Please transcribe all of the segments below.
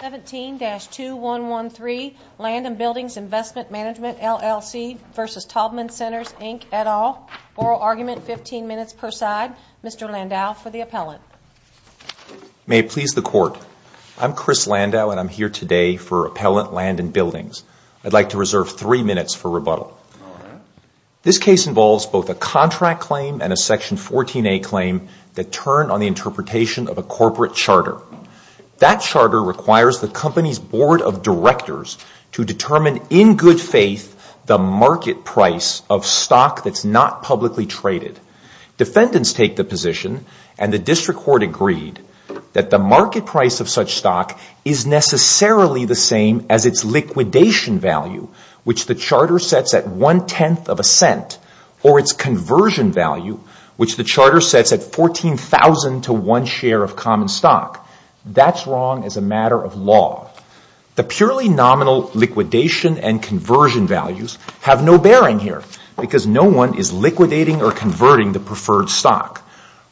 17-2113 Land and Buildings Investment Management, LLC v. Taubman Centers, Inc., et al. Oral argument, 15 minutes per side. Mr. Landau for the appellant. May it please the Court. I'm Chris Landau and I'm here today for Appellant Land and Buildings. I'd like to reserve three minutes for rebuttal. This case involves both a contract claim and a Section 14a claim that turned on the interpretation of a corporate charter. That charter requires the company's Board of Directors to determine in good faith the market price of stock that's not publicly traded. Defendants take the position, and the District Court agreed, that the market price of such stock is necessarily the same as its liquidation value, or its conversion value, which the charter sets at $14,000 to one share of common stock. That's wrong as a matter of law. The purely nominal liquidation and conversion values have no bearing here because no one is liquidating or converting the preferred stock.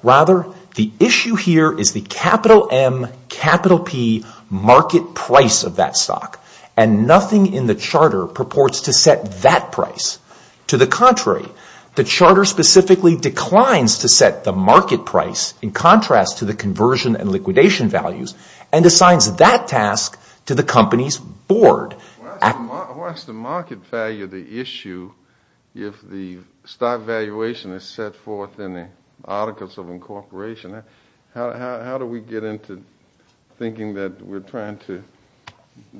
Rather, the issue here is the capital M, capital P market price of that stock, and nothing in the charter purports to set that price. To the contrary, the charter specifically declines to set the market price in contrast to the conversion and liquidation values, and assigns that task to the company's board. Why is the market value the issue if the stock valuation is set forth in the articles of incorporation? How do we get into thinking that we're trying to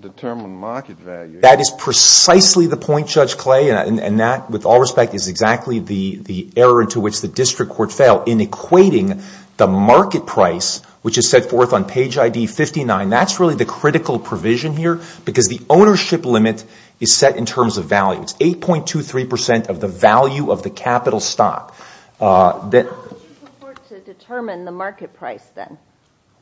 determine market value? That is precisely the point, Judge Clay. That, with all respect, is exactly the error into which the District Court failed in equating the market price, which is set forth on page ID 59. That's really the critical provision here because the ownership limit is set in terms of value. It's 8.23% of the value of the capital stock. How would you purport to determine the market price then?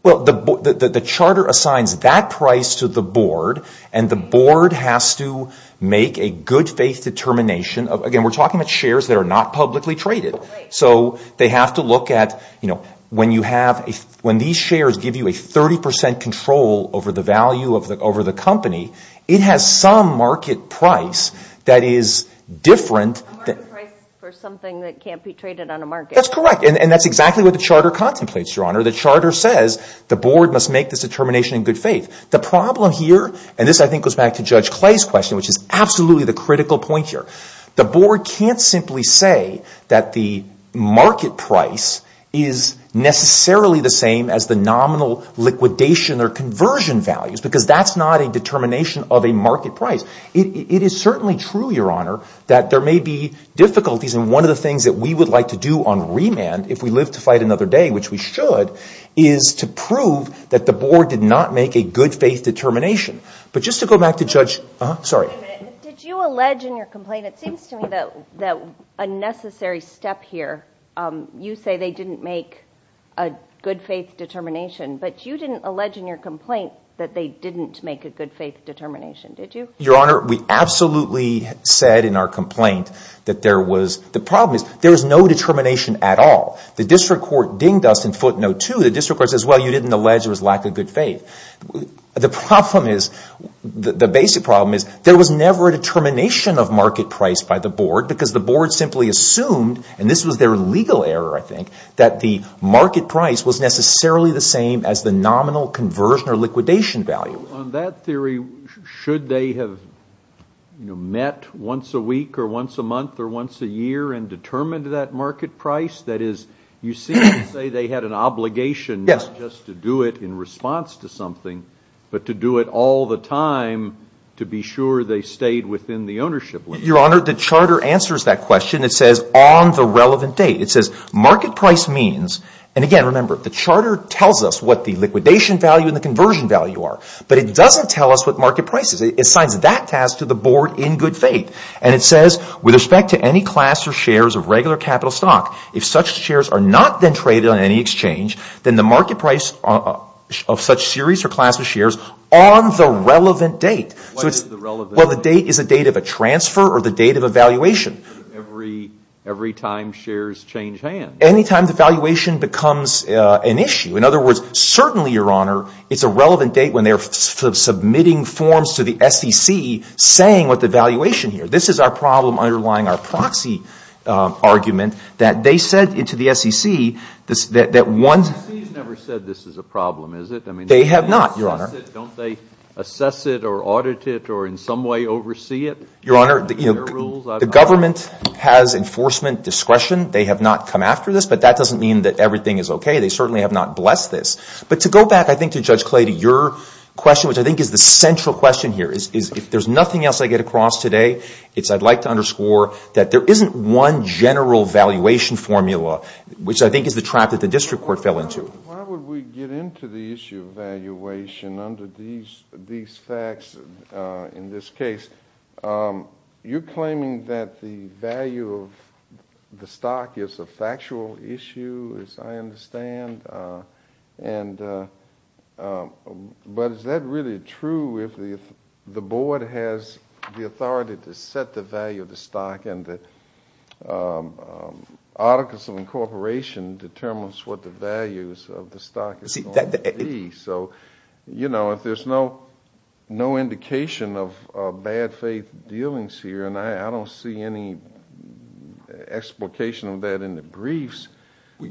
Well, the charter assigns that price to the board, and the board has to make a good-faith determination. Again, we're talking about shares that are not publicly traded. So they have to look at when these shares give you a 30% control over the value of the company, it has some market price that is different. A market price for something that can't be traded on a market. The board must make this determination in good faith. The problem here, and this I think goes back to Judge Clay's question, which is absolutely the critical point here, the board can't simply say that the market price is necessarily the same as the nominal liquidation or conversion values because that's not a determination of a market price. It is certainly true, Your Honor, that there may be difficulties, if we live to fight another day, which we should, is to prove that the board did not make a good-faith determination. But just to go back to Judge... Did you allege in your complaint, it seems to me that a necessary step here, you say they didn't make a good-faith determination, but you didn't allege in your complaint that they didn't make a good-faith determination, did you? Your Honor, we absolutely said in our complaint that there was... The district court dinged us in footnote 2. The district court says, well, you didn't allege there was lack of good faith. The basic problem is there was never a determination of market price by the board because the board simply assumed, and this was their legal error, I think, that the market price was necessarily the same as the nominal conversion or liquidation value. On that theory, should they have met once a week or once a month or once a year and determined that market price? That is, you seem to say they had an obligation not just to do it in response to something, but to do it all the time to be sure they stayed within the ownership limit. Your Honor, the charter answers that question. It says on the relevant date. It says market price means, and again, remember, the charter tells us what the liquidation value and the conversion value are, but it doesn't tell us what market price is. It assigns that task to the board in good faith. And it says, with respect to any class or shares of regular capital stock, if such shares are not then traded on any exchange, then the market price of such series or class of shares on the relevant date. Why is it the relevant date? Well, the date is a date of a transfer or the date of a valuation. Every time shares change hands. Any time the valuation becomes an issue. In other words, certainly, Your Honor, it's a relevant date when they're submitting forms to the SEC saying what the valuation here. This is our problem underlying our proxy argument that they said to the SEC that once. The SEC has never said this is a problem, is it? They have not, Your Honor. Don't they assess it or audit it or in some way oversee it? Your Honor, the government has enforcement discretion. They have not come after this, but that doesn't mean that everything is okay. They certainly have not blessed this. But to go back, I think, to Judge Clay to your question, which I think is the central question here. If there's nothing else I get across today, it's I'd like to underscore that there isn't one general valuation formula, which I think is the trap that the district court fell into. Why would we get into the issue of valuation under these facts in this case? You're claiming that the value of the stock is a factual issue, as I understand. But is that really true if the board has the authority to set the value of the stock and the articles of incorporation determines what the values of the stock is going to be? So, you know, if there's no indication of bad faith dealings here, and I don't see any explication of that in the briefs. What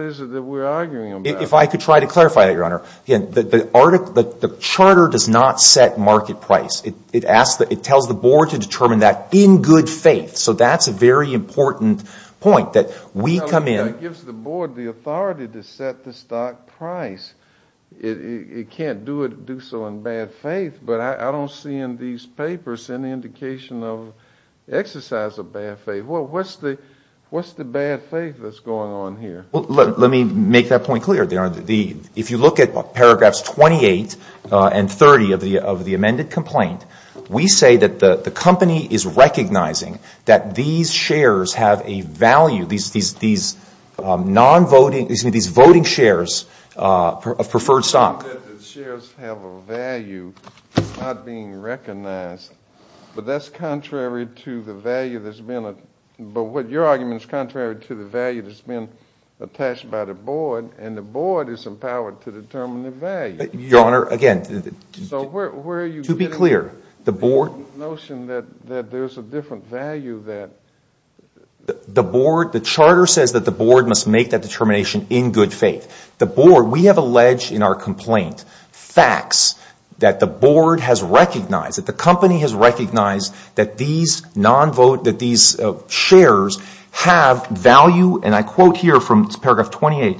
is it that we're arguing about? If I could try to clarify that, Your Honor. Again, the charter does not set market price. It tells the board to determine that in good faith. So that's a very important point that we come in. That gives the board the authority to set the stock price. It can't do so in bad faith, but I don't see in these papers any indication of exercise of bad faith. What's the bad faith that's going on here? Let me make that point clear, Your Honor. If you look at paragraphs 28 and 30 of the amended complaint, we say that the company is recognizing that these shares have a value, these voting shares of preferred stock. It's not that the shares have a value. It's not being recognized. But that's contrary to the value that's been attached by the board, and the board is empowered to determine the value. Your Honor, again, to be clear, the board. The notion that there's a different value that. The board, the charter says that the board must make that determination in good faith. The board, we have alleged in our complaint facts that the board has recognized, that the company has recognized that these shares have value, and I quote here from paragraph 28,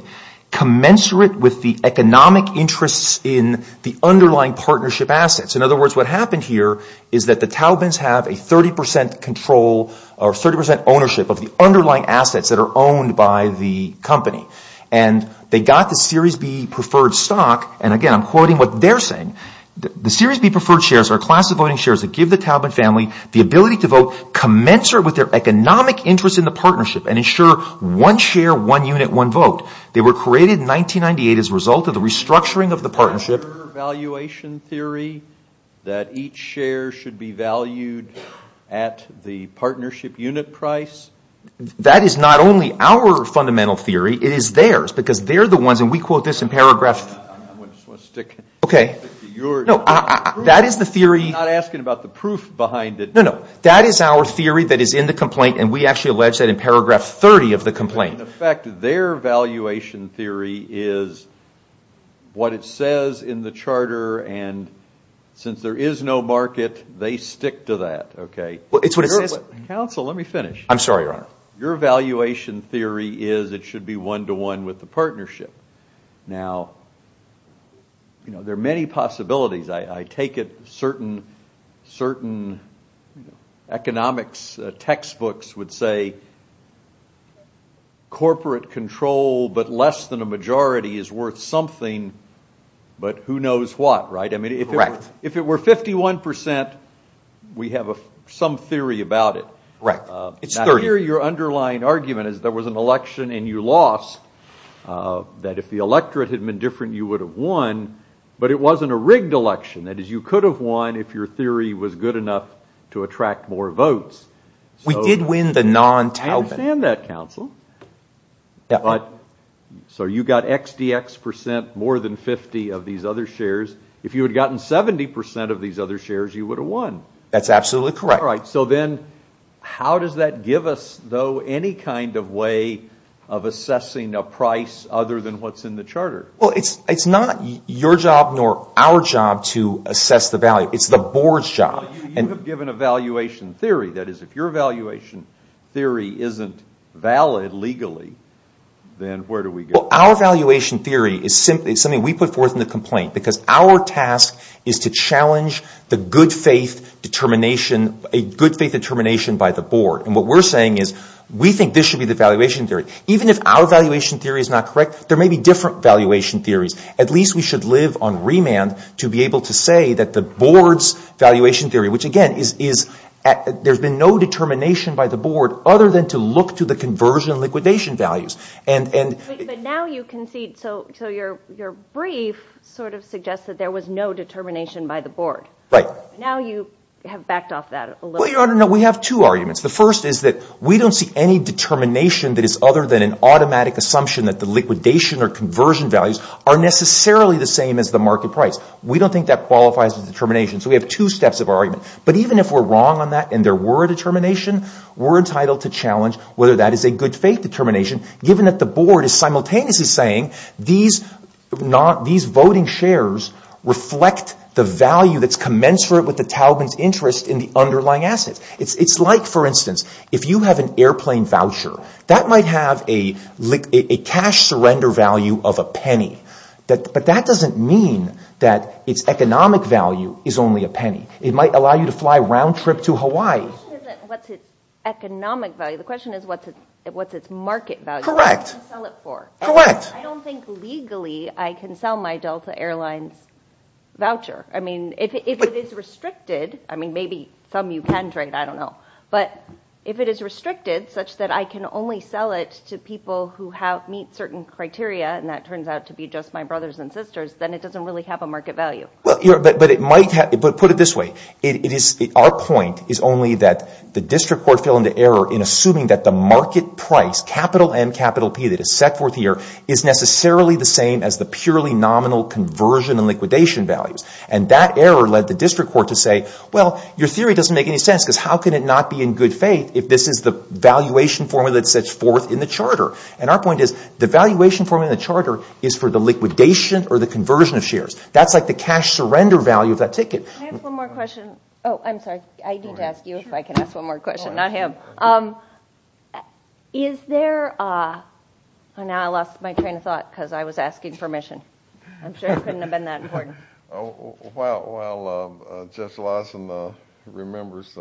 commensurate with the economic interests in the underlying partnership assets. In other words, what happened here is that the Taubmans have a 30% control or 30% ownership of the underlying assets that are owned by the company. And they got the Series B preferred stock. And again, I'm quoting what they're saying. The Series B preferred shares are a class of voting shares that give the Taubman family the ability to vote, commensurate with their economic interest in the partnership, and ensure one share, one unit, one vote. They were created in 1998 as a result of the restructuring of the partnership. Is there a valuation theory that each share should be valued at the partnership unit price? That is not only our fundamental theory. It is theirs because they're the ones, and we quote this in paragraph. I just want to stick to yours. No, that is the theory. I'm not asking about the proof behind it. No, no. That is our theory that is in the complaint, and we actually allege that in paragraph 30 of the complaint. In effect, their valuation theory is what it says in the charter, and since there is no market, they stick to that, okay? Well, it's what it says. Counsel, let me finish. I'm sorry, Your Honor. Your valuation theory is it should be one-to-one with the partnership. Now, there are many possibilities. I take it certain economics textbooks would say corporate control, but less than a majority is worth something, but who knows what, right? Correct. If it were 51%, we have some theory about it. Correct. Now, here your underlying argument is there was an election and you lost, that if the electorate had been different, you would have won, but it wasn't a rigged election. That is, you could have won if your theory was good enough to attract more votes. We did win the non-taupe. I understand that, counsel. So you got XDX percent, more than 50 of these other shares. If you had gotten 70% of these other shares, you would have won. That's absolutely correct. All right, so then how does that give us, though, any kind of way of assessing a price other than what's in the charter? Well, it's not your job nor our job to assess the value. It's the board's job. You have given a valuation theory. That is, if your valuation theory isn't valid legally, then where do we go? Our valuation theory is something we put forth in the complaint because our task is to challenge the good faith determination by the board. And what we're saying is we think this should be the valuation theory. Even if our valuation theory is not correct, there may be different valuation theories. At least we should live on remand to be able to say that the board's valuation theory, which, again, is there's been no determination by the board other than to look to the conversion liquidation values. But now you concede. So your brief sort of suggests that there was no determination by the board. Right. Now you have backed off that a little. Well, Your Honor, no, we have two arguments. The first is that we don't see any determination that is other than an automatic assumption that the liquidation or conversion values are necessarily the same as the market price. We don't think that qualifies as a determination. So we have two steps of our argument. But even if we're wrong on that and there were a determination, we're entitled to challenge whether that is a good faith determination given that the board is simultaneously saying these voting shares reflect the value that's commensurate with the Taliban's interest in the underlying assets. It's like, for instance, if you have an airplane voucher, that might have a cash surrender value of a penny. But that doesn't mean that its economic value is only a penny. It might allow you to fly roundtrip to Hawaii. The question isn't what's its economic value. The question is what's its market value. Correct. What can you sell it for? Correct. I don't think legally I can sell my Delta Airlines voucher. I mean, if it is restricted, I mean, maybe some you can trade. I don't know. But if it is restricted such that I can only sell it to people who meet certain criteria and that turns out to be just my brothers and sisters, then it doesn't really have a market value. But put it this way. Our point is only that the district court fell into error in assuming that the market price, capital M, capital P that is set forth here, is necessarily the same as the purely nominal conversion and liquidation values. And that error led the district court to say, well, your theory doesn't make any sense because how can it not be in good faith if this is the valuation formula that sets forth in the charter? And our point is the valuation formula in the charter is for the liquidation or the conversion of shares. That's like the cash surrender value of that ticket. Can I ask one more question? Oh, I'm sorry. I need to ask you if I can ask one more question, not him. Is there a – now I lost my train of thought because I was asking permission. I'm sure it couldn't have been that important. While Judge Larson remembers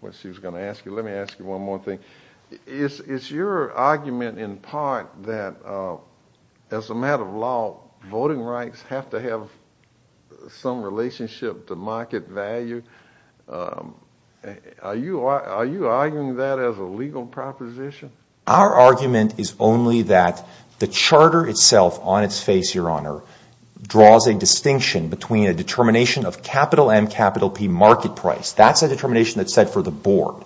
what she was going to ask you, let me ask you one more thing. Is your argument in part that as a matter of law, voting rights have to have some relationship to market value? Are you arguing that as a legal proposition? Our argument is only that the charter itself on its face, Your Honor, draws a distinction between a determination of capital M, capital P market price. That's a determination that's set for the board.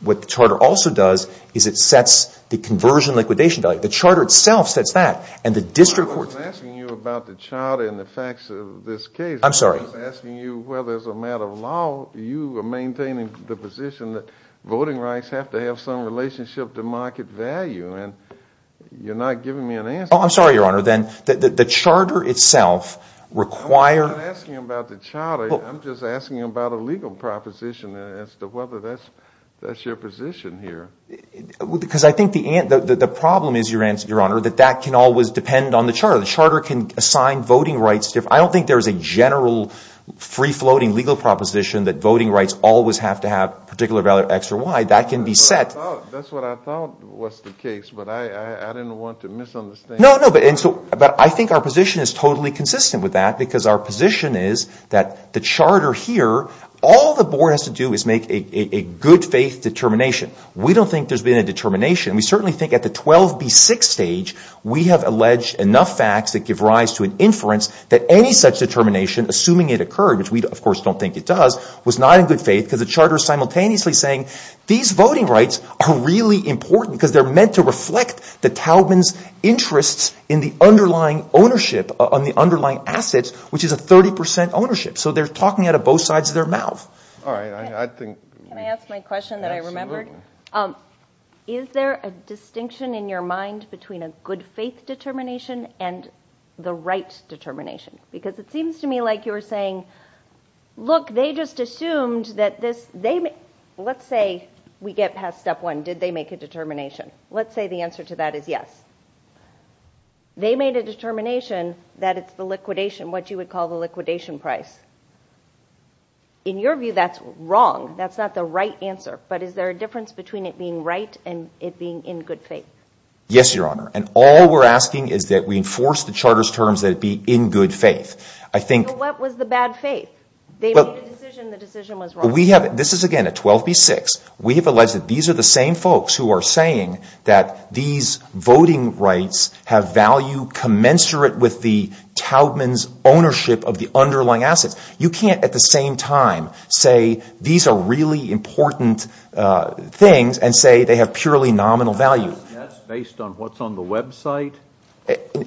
What the charter also does is it sets the conversion liquidation value. The charter itself sets that. I wasn't asking you about the charter and the facts of this case. I'm sorry. I was asking you whether as a matter of law you are maintaining the position that voting rights have to have some relationship to market value. You're not giving me an answer. Oh, I'm sorry, Your Honor. The charter itself requires – I'm not asking about the charter. I'm just asking about a legal proposition as to whether that's your position here. Because I think the problem is, Your Honor, that that can always depend on the charter. The charter can assign voting rights. I don't think there's a general free-floating legal proposition that voting rights always have to have particular value X or Y. That can be set. That's what I thought was the case, but I didn't want to misunderstand. No, no. But I think our position is totally consistent with that because our position is that the charter here, all the board has to do is make a good faith determination. We don't think there's been a determination. We certainly think at the 12B6 stage, we have alleged enough facts that give rise to an inference that any such determination, assuming it occurred, which we, of course, don't think it does, was not in good faith because the charter is simultaneously saying these voting rights are really important because they're meant to reflect the talbans' interests in the underlying ownership on the underlying assets, which is a 30 percent ownership. So they're talking out of both sides of their mouth. All right. Can I ask my question that I remembered? Absolutely. Is there a distinction in your mind between a good faith determination and the right determination? Because it seems to me like you're saying, look, they just assumed that this — let's say we get past step one. Did they make a determination? Let's say the answer to that is yes. They made a determination that it's the liquidation, what you would call the liquidation price. In your view, that's wrong. That's not the right answer. But is there a difference between it being right and it being in good faith? Yes, Your Honor. And all we're asking is that we enforce the charter's terms that it be in good faith. I think — So what was the bad faith? They made a decision. The decision was wrong. We have — this is, again, at 12B6. We have alleged that these are the same folks who are saying that these voting rights have value commensurate with the talbans' ownership of the underlying assets. You can't at the same time say these are really important things and say they have purely nominal value. That's based on what's on the website?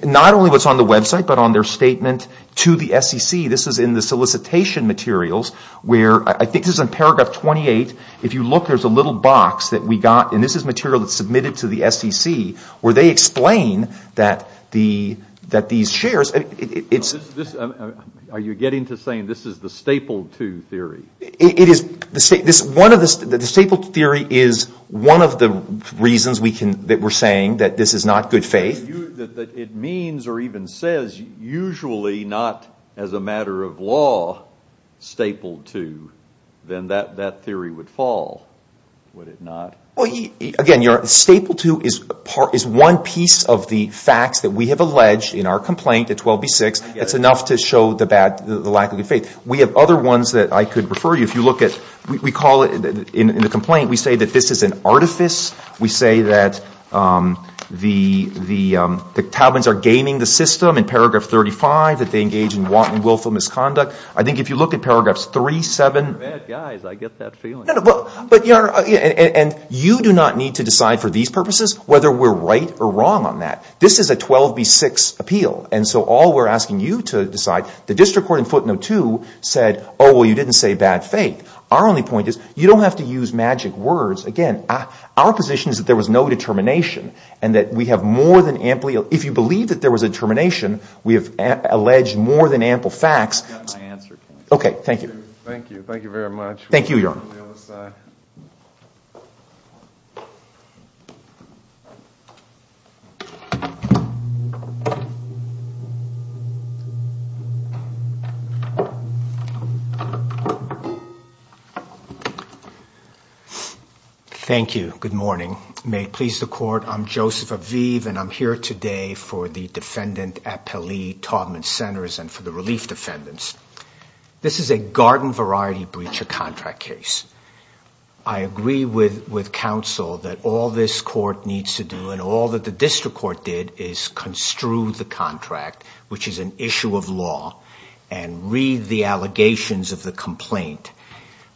Not only what's on the website but on their statement to the SEC. This is in the solicitation materials where — I think this is in paragraph 28. If you look, there's a little box that we got, and this is material that's submitted to the SEC, where they explain that these shares — Are you getting to saying this is the Staple II theory? It is. The Staple II theory is one of the reasons that we're saying that this is not good faith. That it means or even says, usually not as a matter of law, Staple II, then that theory would fall, would it not? Again, Staple II is one piece of the facts that we have alleged in our complaint at 12B6. That's enough to show the lack of good faith. We have other ones that I could refer you. If you look at — we call it — in the complaint, we say that this is an artifice. We say that the talbans are gaming the system in paragraph 35, that they engage in want and willful misconduct. I think if you look at paragraphs 3, 7 — They're bad guys. I get that feeling. And you do not need to decide for these purposes whether we're right or wrong on that. This is a 12B6 appeal. And so all we're asking you to decide — the district court in footnote 2 said, oh, well, you didn't say bad faith. Our only point is you don't have to use magic words. Again, our position is that there was no determination and that we have more than amply — if you believe that there was a determination, we have alleged more than ample facts. I got my answer. Okay, thank you. Thank you. Thank you very much. Thank you, Your Honor. Thank you. Good morning. May it please the court, I'm Joseph Aviv, and I'm here today for the defendant appellee talban centers and for the relief defendants. This is a garden variety breach of contract case. I agree with counsel that all this court needs to do and all that the district court did is construe the contract, which is an issue of law, and read the allegations of the complaint.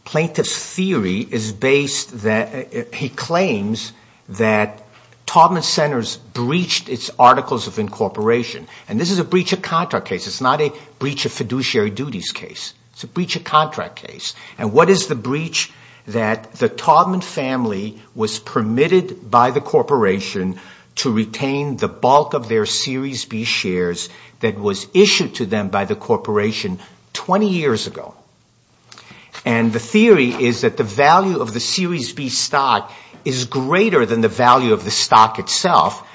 Plaintiff's theory is based that — he claims that talban centers breached its articles of incorporation. And this is a breach of contract case. It's not a breach of fiduciary duties case. It's a breach of contract case. And what is the breach? That the talban family was permitted by the corporation to retain the bulk of their Series B shares that was issued to them by the corporation 20 years ago. And the theory is that the value of the Series B stock is greater than the value of the stock itself,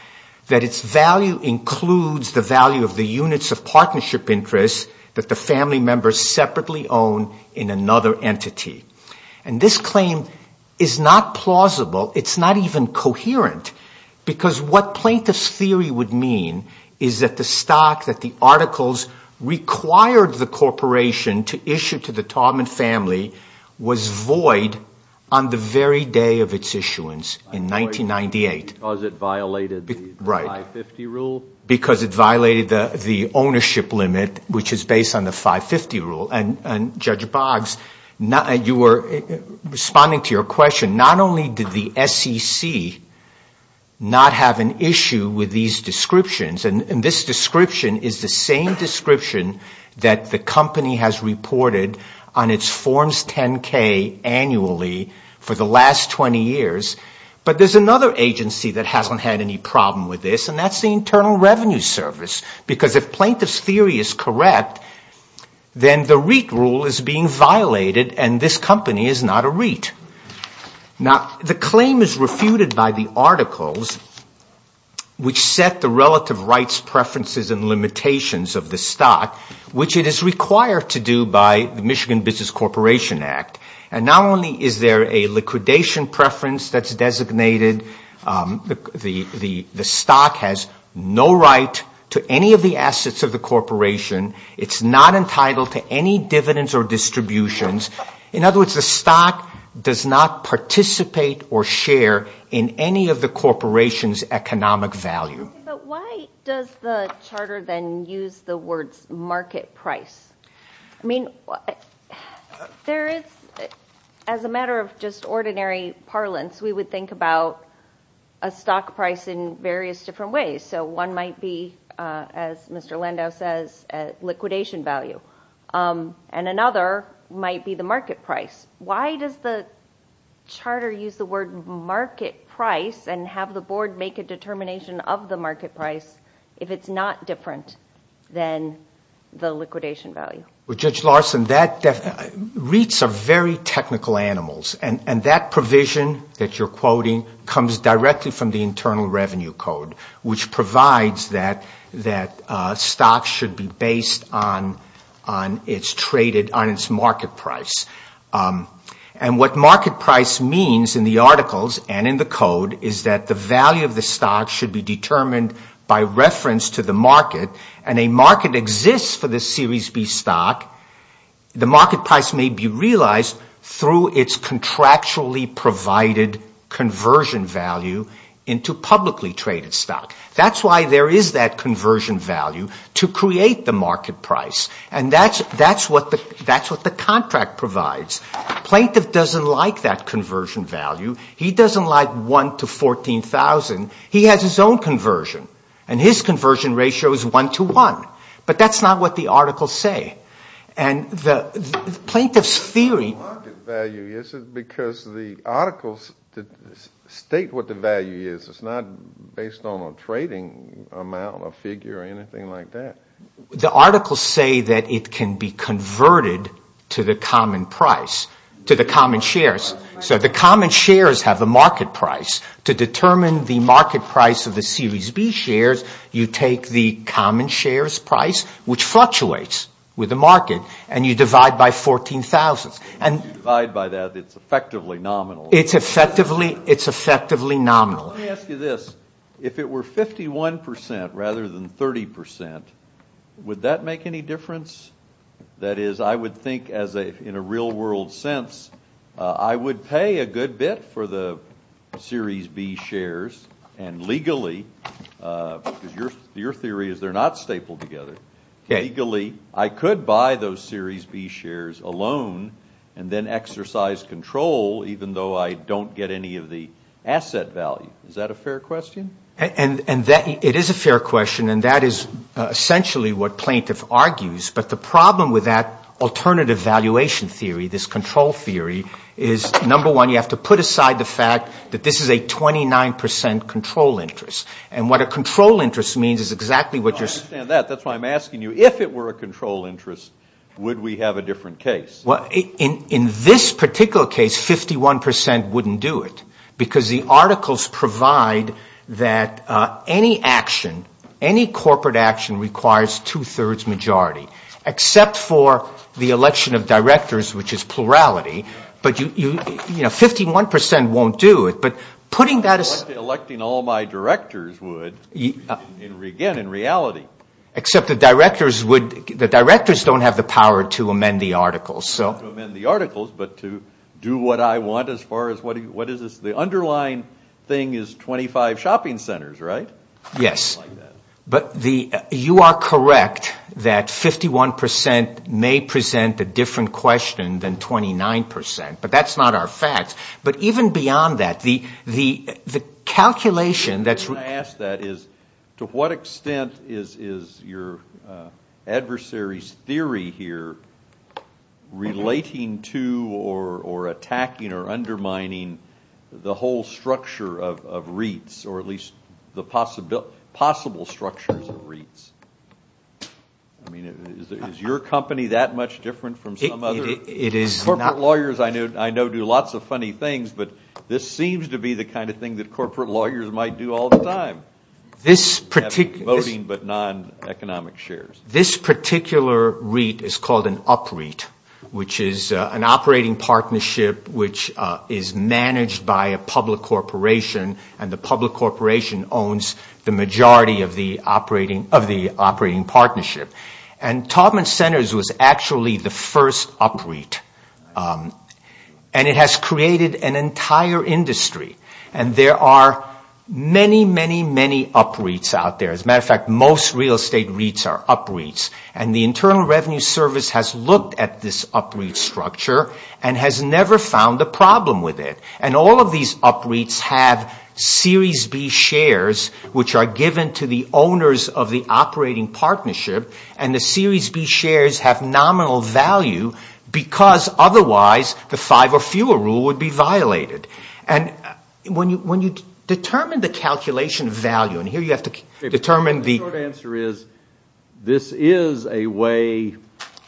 that its value includes the value of the units of partnership interest that the family members separately own in another entity. And this claim is not plausible. It's not even coherent, because what plaintiff's theory would mean is that the stock that the articles required the corporation to issue to the talban family was void on the very day of its issuance in 1998. Because it violated the 550 rule? Right. Because it violated the ownership limit, which is based on the 550 rule. And, Judge Boggs, you were responding to your question. Not only did the SEC not have an issue with these descriptions — and this description is the same description that the company has reported on its Forms 10-K annually for the last 20 years. But there's another agency that hasn't had any problem with this, and that's the Internal Revenue Service. Because if plaintiff's theory is correct, then the REIT rule is being violated, and this company is not a REIT. Now, the claim is refuted by the articles, which set the relative rights, preferences, and limitations of the stock, which it is required to do by the Michigan Business Corporation Act. And not only is there a liquidation preference that's designated, the stock has no right to any of the assets of the corporation. It's not entitled to any dividends or distributions. In other words, the stock does not participate or share in any of the corporation's economic value. But why does the charter then use the words market price? I mean, there is — as a matter of just ordinary parlance, we would think about a stock price in various different ways. So one might be, as Mr. Lando says, liquidation value. And another might be the market price. Why does the charter use the word market price and have the board make a determination of the market price if it's not different than the liquidation value? Well, Judge Larson, REITs are very technical animals. And that provision that you're quoting comes directly from the Internal Revenue Code, which provides that stocks should be based on its market price. And what market price means in the articles and in the code is that the value of the stock should be determined by reference to the market. And a market exists for this Series B stock. The market price may be realized through its contractually provided conversion value into publicly traded stock. That's why there is that conversion value to create the market price. And that's what the contract provides. Plaintiff doesn't like that conversion value. He doesn't like 1 to 14,000. He has his own conversion. And his conversion ratio is 1 to 1. But that's not what the articles say. And the plaintiff's theory... The market value is because the articles state what the value is. It's not based on a trading amount, a figure, or anything like that. The articles say that it can be converted to the common price, to the common shares. So the common shares have a market price. To determine the market price of the Series B shares, you take the common shares price, which fluctuates with the market, and you divide by 14,000. If you divide by that, it's effectively nominal. It's effectively nominal. Let me ask you this. If it were 51% rather than 30%, would that make any difference? That is, I would think, in a real-world sense, I would pay a good bit for the Series B shares, and legally, because your theory is they're not stapled together, legally I could buy those Series B shares alone and then exercise control, even though I don't get any of the asset value. Is that a fair question? It is a fair question, and that is essentially what plaintiff argues. But the problem with that alternative valuation theory, this control theory, is, number one, you have to put aside the fact that this is a 29% control interest. And what a control interest means is exactly what you're saying. I understand that. That's why I'm asking you, if it were a control interest, would we have a different case? In this particular case, 51% wouldn't do it, because the articles provide that any action, any corporate action, requires two-thirds majority, except for the election of directors, which is plurality. But, you know, 51% won't do it. But putting that aside to electing all my directors would, again, in reality. Except the directors don't have the power to amend the articles. But to do what I want as far as what is this? The underlying thing is 25 shopping centers, right? Yes. But you are correct that 51% may present a different question than 29%, but that's not our facts. But even beyond that, the calculation that's... Relating to or attacking or undermining the whole structure of REITs, or at least the possible structures of REITs. I mean, is your company that much different from some other? It is not. Corporate lawyers I know do lots of funny things, but this seems to be the kind of thing that corporate lawyers might do all the time. This particular... Voting but non-economic shares. This particular REIT is called an upREIT, which is an operating partnership which is managed by a public corporation. And the public corporation owns the majority of the operating partnership. And Taubman Centers was actually the first upREIT. And it has created an entire industry. And there are many, many, many upREITs out there. As a matter of fact, most real estate REITs are upREITs. And the Internal Revenue Service has looked at this upREIT structure and has never found a problem with it. And all of these upREITs have Series B shares which are given to the owners of the operating partnership. And the Series B shares have nominal value because otherwise the five or fewer rule would be violated. And when you determine the calculation value, and here you have to determine the... The short answer is this is a way,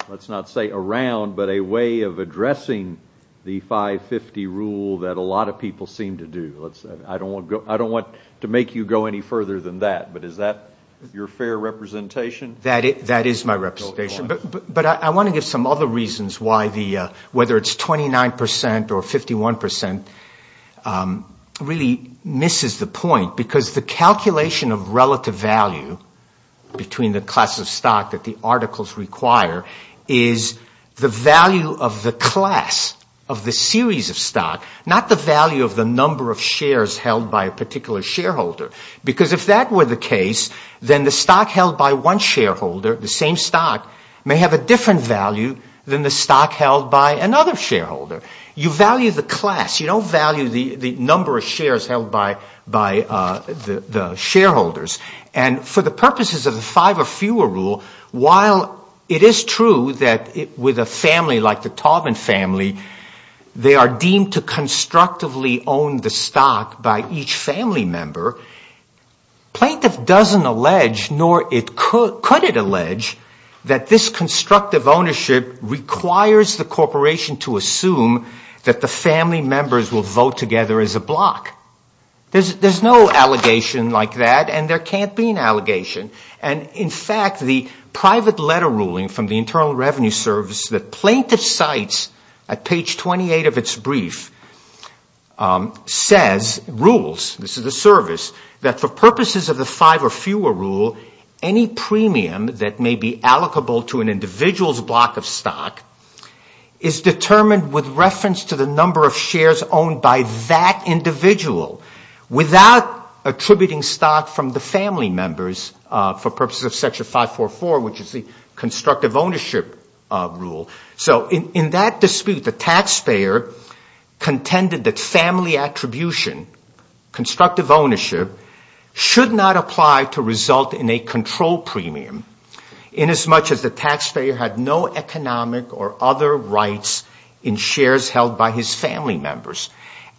let's not say around, but a way of addressing the 550 rule that a lot of people seem to do. I don't want to make you go any further than that, but is that your fair representation? That is my representation. But I want to give some other reasons why the... whether it's 29 percent or 51 percent really misses the point. Because the calculation of relative value between the class of stock that the articles require is the value of the class of the series of stock. Not the value of the number of shares held by a particular shareholder. Because if that were the case, then the stock held by one shareholder, the same stock, may have a different value than the stock held by another shareholder. You value the class. You don't value the number of shares held by the shareholders. And for the purposes of the five or fewer rule, while it is true that with a family like the Taubman family, they are deemed to constructively own the stock by each family member, plaintiff doesn't allege, nor could it allege, that this constructive ownership requires the corporation to assume that the family members will vote together as a block. There's no allegation like that, and there can't be an allegation. And in fact, the private letter ruling from the Internal Revenue Service that plaintiff cites at page 28 of its brief says... rules... this is the service... that for purposes of the five or fewer rule, any premium that may be allocable to an individual's block of stock is determined with reference to the number of shares owned by that individual, without attributing stock from the family members, for purposes of Section 544, which is the constructive ownership rule. So, in that dispute, the taxpayer contended that family attribution, constructive ownership, should not apply to result in a control premium... inasmuch as the taxpayer had no economic or other rights in shares held by his family members.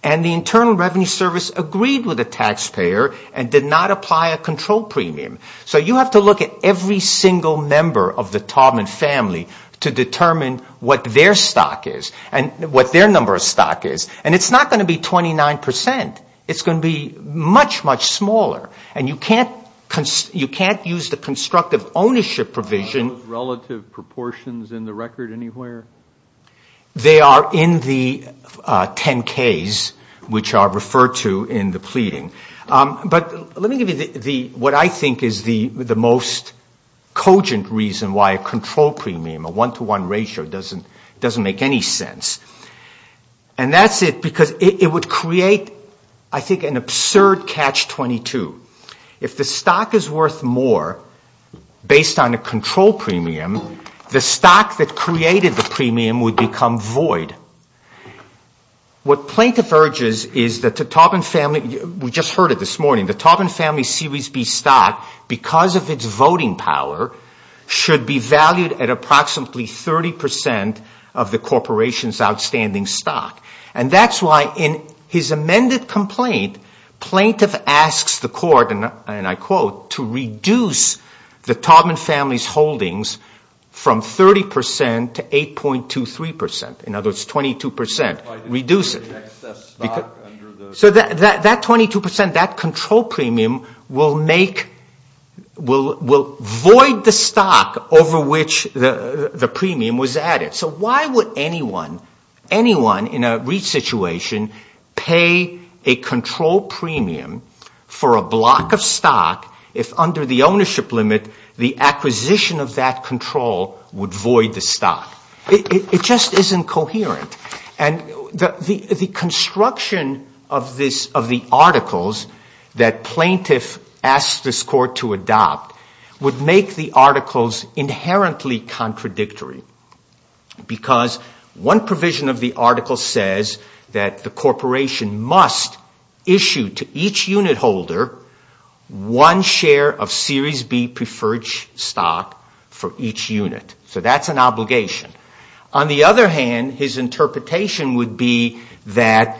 And the Internal Revenue Service agreed with the taxpayer and did not apply a control premium. So, you have to look at every single member of the Taubman family to determine what their stock is and what their number of stock is. And it's not going to be 29 percent. It's going to be much, much smaller. And you can't use the constructive ownership provision... Are those relative proportions in the record anywhere? They are in the 10-Ks, which are referred to in the pleading. But, let me give you what I think is the most cogent reason why a control premium, a one-to-one ratio, doesn't make any sense. And that's it because it would create, I think, an absurd Catch-22. If the stock is worth more, based on a control premium, the stock that created the premium would become void. What plaintiff urges is that the Taubman family... We just heard it this morning. The Taubman family Series B stock, because of its voting power, should be valued at approximately 30 percent of the corporation's outstanding stock. And that's why in his amended complaint, plaintiff asks the court, and I quote, to reduce the Taubman family's holdings from 30 percent to 8.23 percent. In other words, 22 percent. Reduce it. So that 22 percent, that control premium, will make... will void the stock over which the premium was added. So why would anyone, anyone in a REIT situation, pay a control premium for a block of stock if under the ownership limit, the acquisition of that control would void the stock? It just isn't coherent. And the construction of this... of the articles that plaintiff asks this court to adopt would make the articles inherently contradictory. Because one provision of the article says that the corporation must issue to each unit holder one share of Series B preferred stock for each unit. So that's an obligation. On the other hand, his interpretation would be that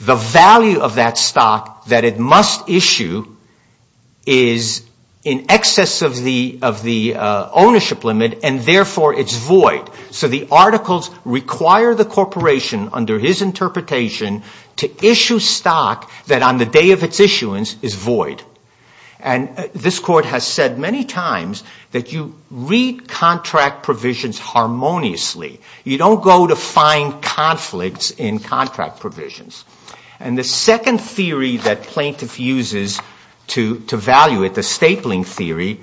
the value of that stock that it must issue is in excess of the ownership limit, and therefore it's void. So the articles require the corporation, under his interpretation, to issue stock that on the day of its issuance is void. And this court has said many times that you read contract provisions harmoniously. You don't go to find conflicts in contract provisions. And the second theory that plaintiff uses to value it, the stapling theory......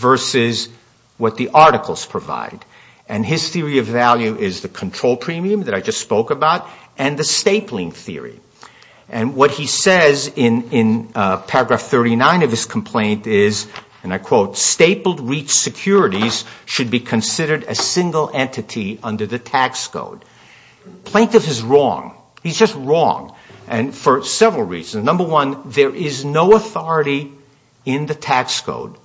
versus what the articles provide. And his theory of value is the control premium that I just spoke about and the stapling theory. And what he says in paragraph 39 of his complaint is, and I quote, Plaintiff is wrong. He's just wrong. And for several reasons. Number one, there is no authority in the tax code.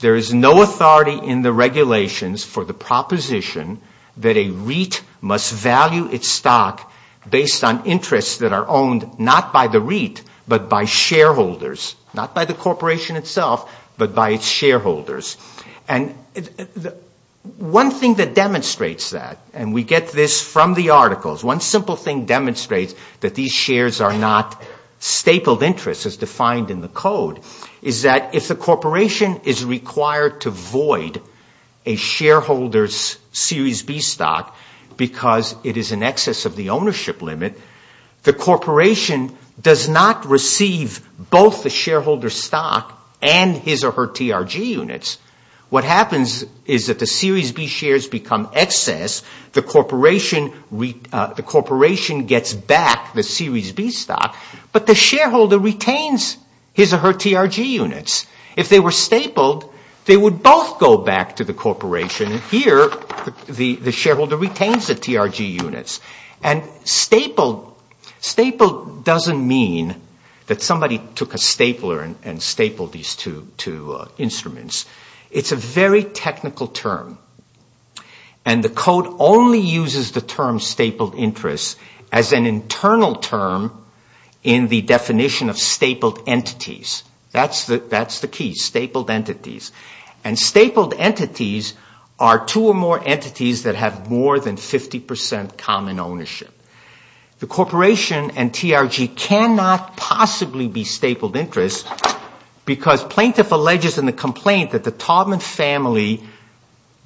There is no authority in the regulations for the proposition that a REIT must value its stock based on interests that are owned not by the REIT, but by shareholders. Not by the corporation itself, but by its shareholders. And one thing that demonstrates that, and we get this from the articles. One simple thing demonstrates that these shares are not stapled interests as defined in the code. Is that if the corporation is required to void a shareholder's Series B stock because it is in excess of the ownership limit... What happens is that the Series B shares become excess. The corporation gets back the Series B stock. But the shareholder retains his or her TRG units. If they were stapled, they would both go back to the corporation. Here, the shareholder retains the TRG units. And stapled doesn't mean that somebody took a stapler and stapled these two instruments. It's a very technical term. And the code only uses the term, stapled interests, as an internal term in the definition of stapled entities. That's the key, stapled entities. And stapled entities are two or more entities that have more than 50 percent common ownership. The corporation and TRG cannot possibly be stapled interests because plaintiff alleges in the complaint... that the Taubman family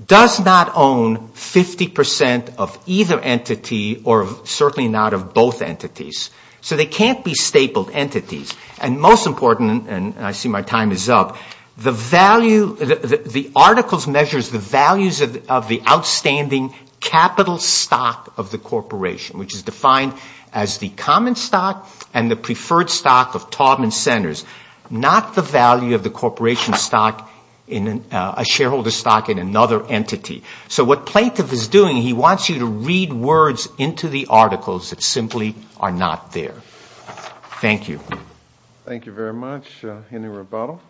does not own 50 percent of either entity or certainly not of both entities. So, they can't be stapled entities. And most important, and I see my time is up, the value... the article measures the values of the outstanding capital stock of the corporation... which is defined as the common stock and the preferred stock of Taubman Centers... not the value of the corporation stock in a shareholder stock in another entity. So, what plaintiff is doing, he wants you to read words into the articles that simply are not there. Thank you. Thank you very much. Any rebuttal?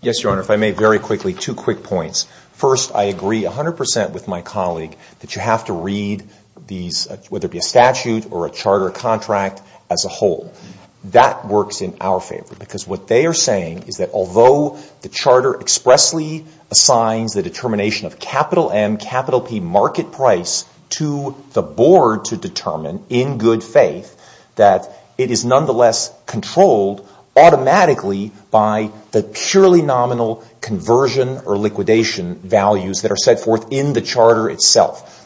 Yes, Your Honor. If I may very quickly, two quick points. First, I agree 100 percent with my colleague that you have to read these... whether it be a statute or a charter contract as a whole. That works in our favor because what they are saying is that although the charter expressly... the board to determine in good faith, that it is nonetheless controlled automatically... by the purely nominal conversion or liquidation values that are set forth in the charter itself.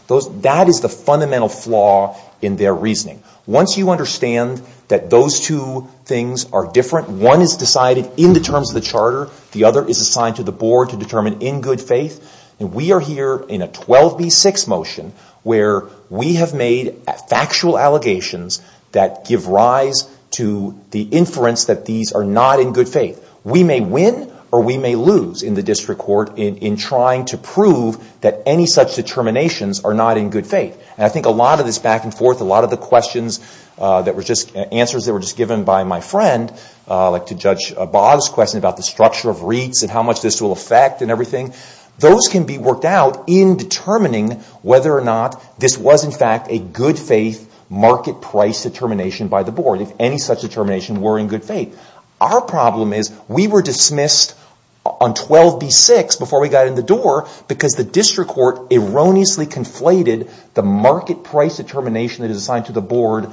That is the fundamental flaw in their reasoning. Once you understand that those two things are different, one is decided in the terms of the charter... the other is assigned to the board to determine in good faith. And, we are here in a 12B6 motion where we have made factual allegations that give rise to the inference... that these are not in good faith. We may win or we may lose in the district court in trying to prove that any such determinations are not in good faith. And, I think a lot of this back and forth, a lot of the questions that were just... answers that were just given by my friend, like to Judge Baugh's question about the structure of REITs... and how much this will affect and everything. Those can be worked out in determining whether or not this was in fact a good faith market price determination by the board... if any such determination were in good faith. Our problem is we were dismissed on 12B6 before we got in the door... because the district court erroneously conflated the market price determination that is assigned to the board...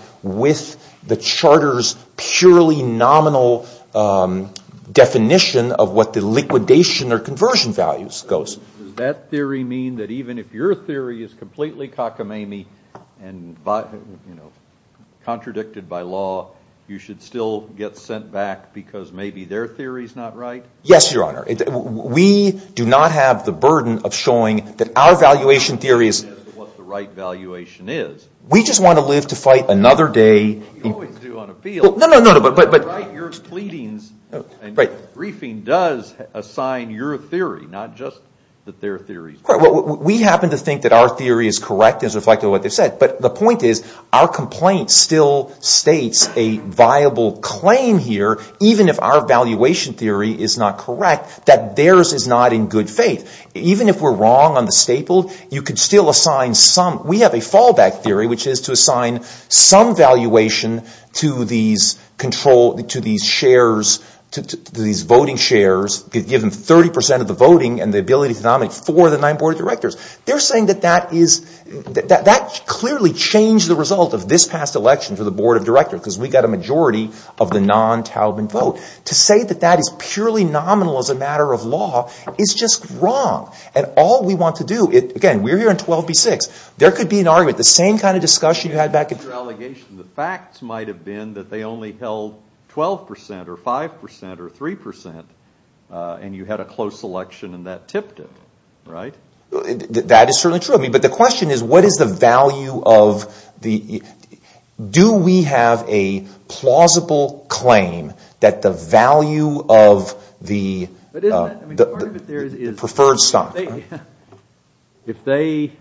Does that theory mean that even if your theory is completely cockamamie and, you know, contradicted by law... you should still get sent back because maybe their theory is not right? Yes, Your Honor. We do not have the burden of showing that our valuation theory is... What the right valuation is. We just want to live to fight another day. You always do on appeal. No, no, no, but... Not just that their theory is... We happen to think that our theory is correct, as reflected in what they said. But, the point is our complaint still states a viable claim here... even if our valuation theory is not correct, that theirs is not in good faith. Even if we are wrong on the staple, you could still assign some... We have a fallback theory, which is to assign some valuation to these control... to these voting shares. Give them 30% of the voting and the ability to nominate four of the nine board of directors. They are saying that that is... That clearly changed the result of this past election for the board of directors... because we got a majority of the non-Talban vote. To say that that is purely nominal as a matter of law, is just wrong. And, all we want to do... Again, we are here on 12b-6. There could be an argument. The same kind of discussion you had back in... And, you had a close election and that tipped it. Right? That is certainly true. But, the question is what is the value of the... Do we have a plausible claim that the value of the preferred stock... If they...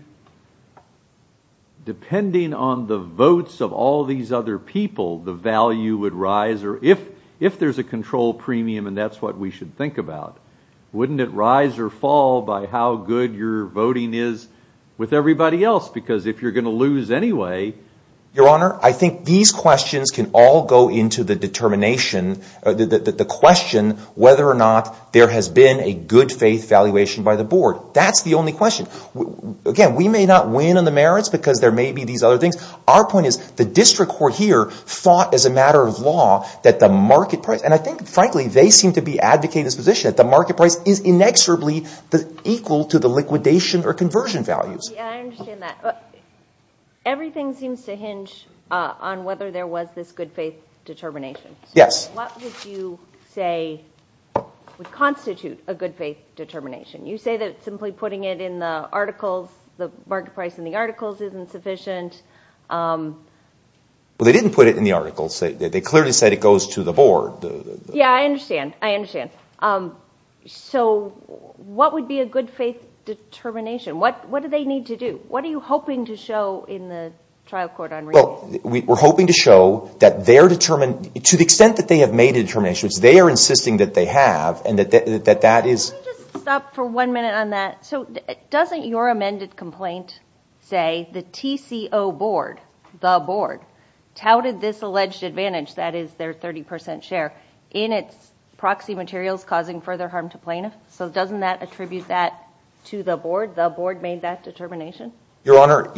Depending on the votes of all these other people, the value would rise. Or, if there is a control premium and that is what we should think about... Wouldn't it rise or fall by how good your voting is with everybody else? Because, if you are going to lose anyway... Your Honor, I think these questions can all go into the determination... The question whether or not there has been a good faith valuation by the board. That is the only question. Again, we may not win on the merits because there may be these other things. Our point is the district court here thought, as a matter of law, that the market price... And, I think, frankly, they seem to be advocating this position... That the market price is inexorably equal to the liquidation or conversion values. I understand that. Everything seems to hinge on whether there was this good faith determination. Yes. What would you say would constitute a good faith determination? You say that simply putting it in the articles... The market price in the articles isn't sufficient. Well, they didn't put it in the articles. They clearly said it goes to the board. Yes, I understand. I understand. So, what would be a good faith determination? What do they need to do? What are you hoping to show in the trial court on renewals? Well, we are hoping to show that they are determined... To the extent that they have made determinations, they are insisting that they have and that that is... Can you just stop for one minute on that? So, doesn't your amended complaint say the TCO board, the board, touted this alleged advantage... that is their 30 percent share, in its proxy materials causing further harm to plaintiffs? So, doesn't that attribute that to the board? The board made that determination? Your Honor,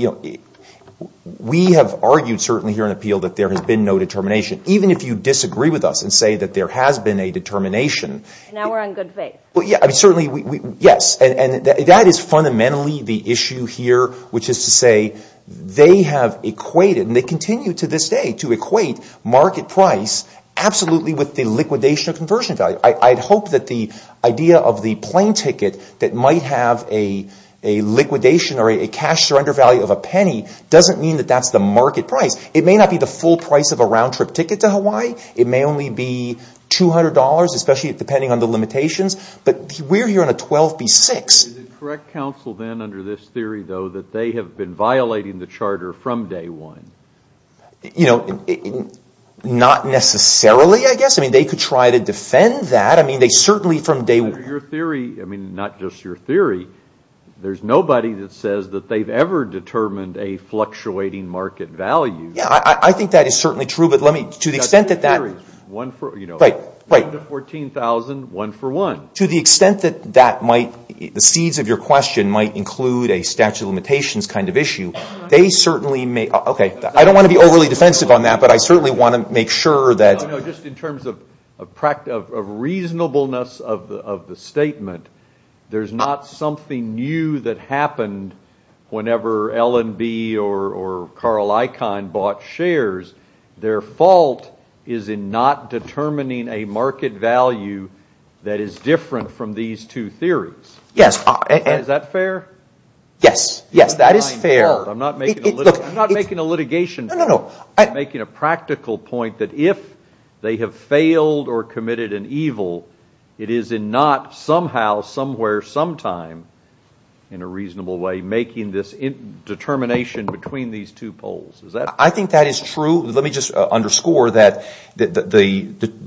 we have argued certainly here in appeal that there has been no determination. Even if you disagree with us and say that there has been a determination... Now we are on good faith. Well, yes. I mean certainly, yes. And that is fundamentally the issue here, which is to say they have equated... and they continue to this day to equate market price absolutely with the liquidation of conversion value. I hope that the idea of the plane ticket that might have a liquidation or a cash surrender value of a penny... doesn't mean that that's the market price. It may not be the full price of a round trip ticket to Hawaii. It may only be $200, especially depending on the limitations. But we are here on a 12B6. Is it correct, counsel, then under this theory, though, that they have been violating the charter from day one? You know, not necessarily, I guess. I mean they could try to defend that. I mean they certainly from day one... Under your theory, I mean not just your theory, there is nobody that says that they have ever determined a fluctuating market value. I think that is certainly true, but let me... To the extent that that... the seeds of your question might include a statute of limitations kind of issue. They certainly may... Okay, I don't want to be overly defensive on that, but I certainly want to make sure that... You know, just in terms of reasonableness of the statement, there is not something new that happened... whenever L&B or Carl Icahn bought shares. Their fault is in not determining a market value that is different from these two theories. Yes. Is that fair? Yes. Yes, that is fair. I'm not making a litigation point. No, no, no. I'm making a practical point that if they have failed or committed an evil, it is in not somehow, somewhere, sometime... Is that... I think that is true. Let me just underscore that the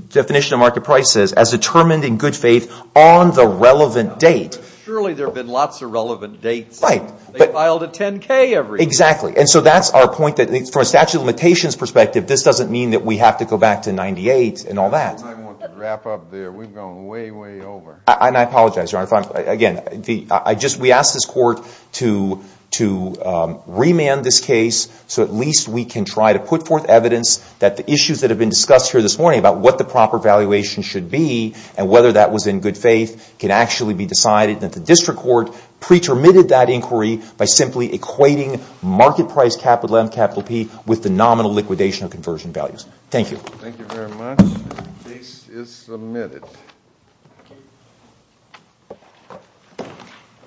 definition of market price is as determined in good faith on the relevant date. Surely there have been lots of relevant dates. Right. They filed a 10-K every year. Exactly. And so, that's our point that from a statute of limitations perspective, this doesn't mean that we have to go back to 98 and all that. I want to wrap up there. We've gone way, way over. And I apologize, Your Honor. Again, we ask this Court to remand this case so at least we can try to put forth evidence that the issues that have been discussed here this morning about what the proper valuation should be and whether that was in good faith can actually be decided. And that the District Court pre-termitted that inquiry by simply equating market price, capital M, capital P, with the nominal liquidation of conversion values. Thank you. Thank you very much. The case is submitted. Thank you.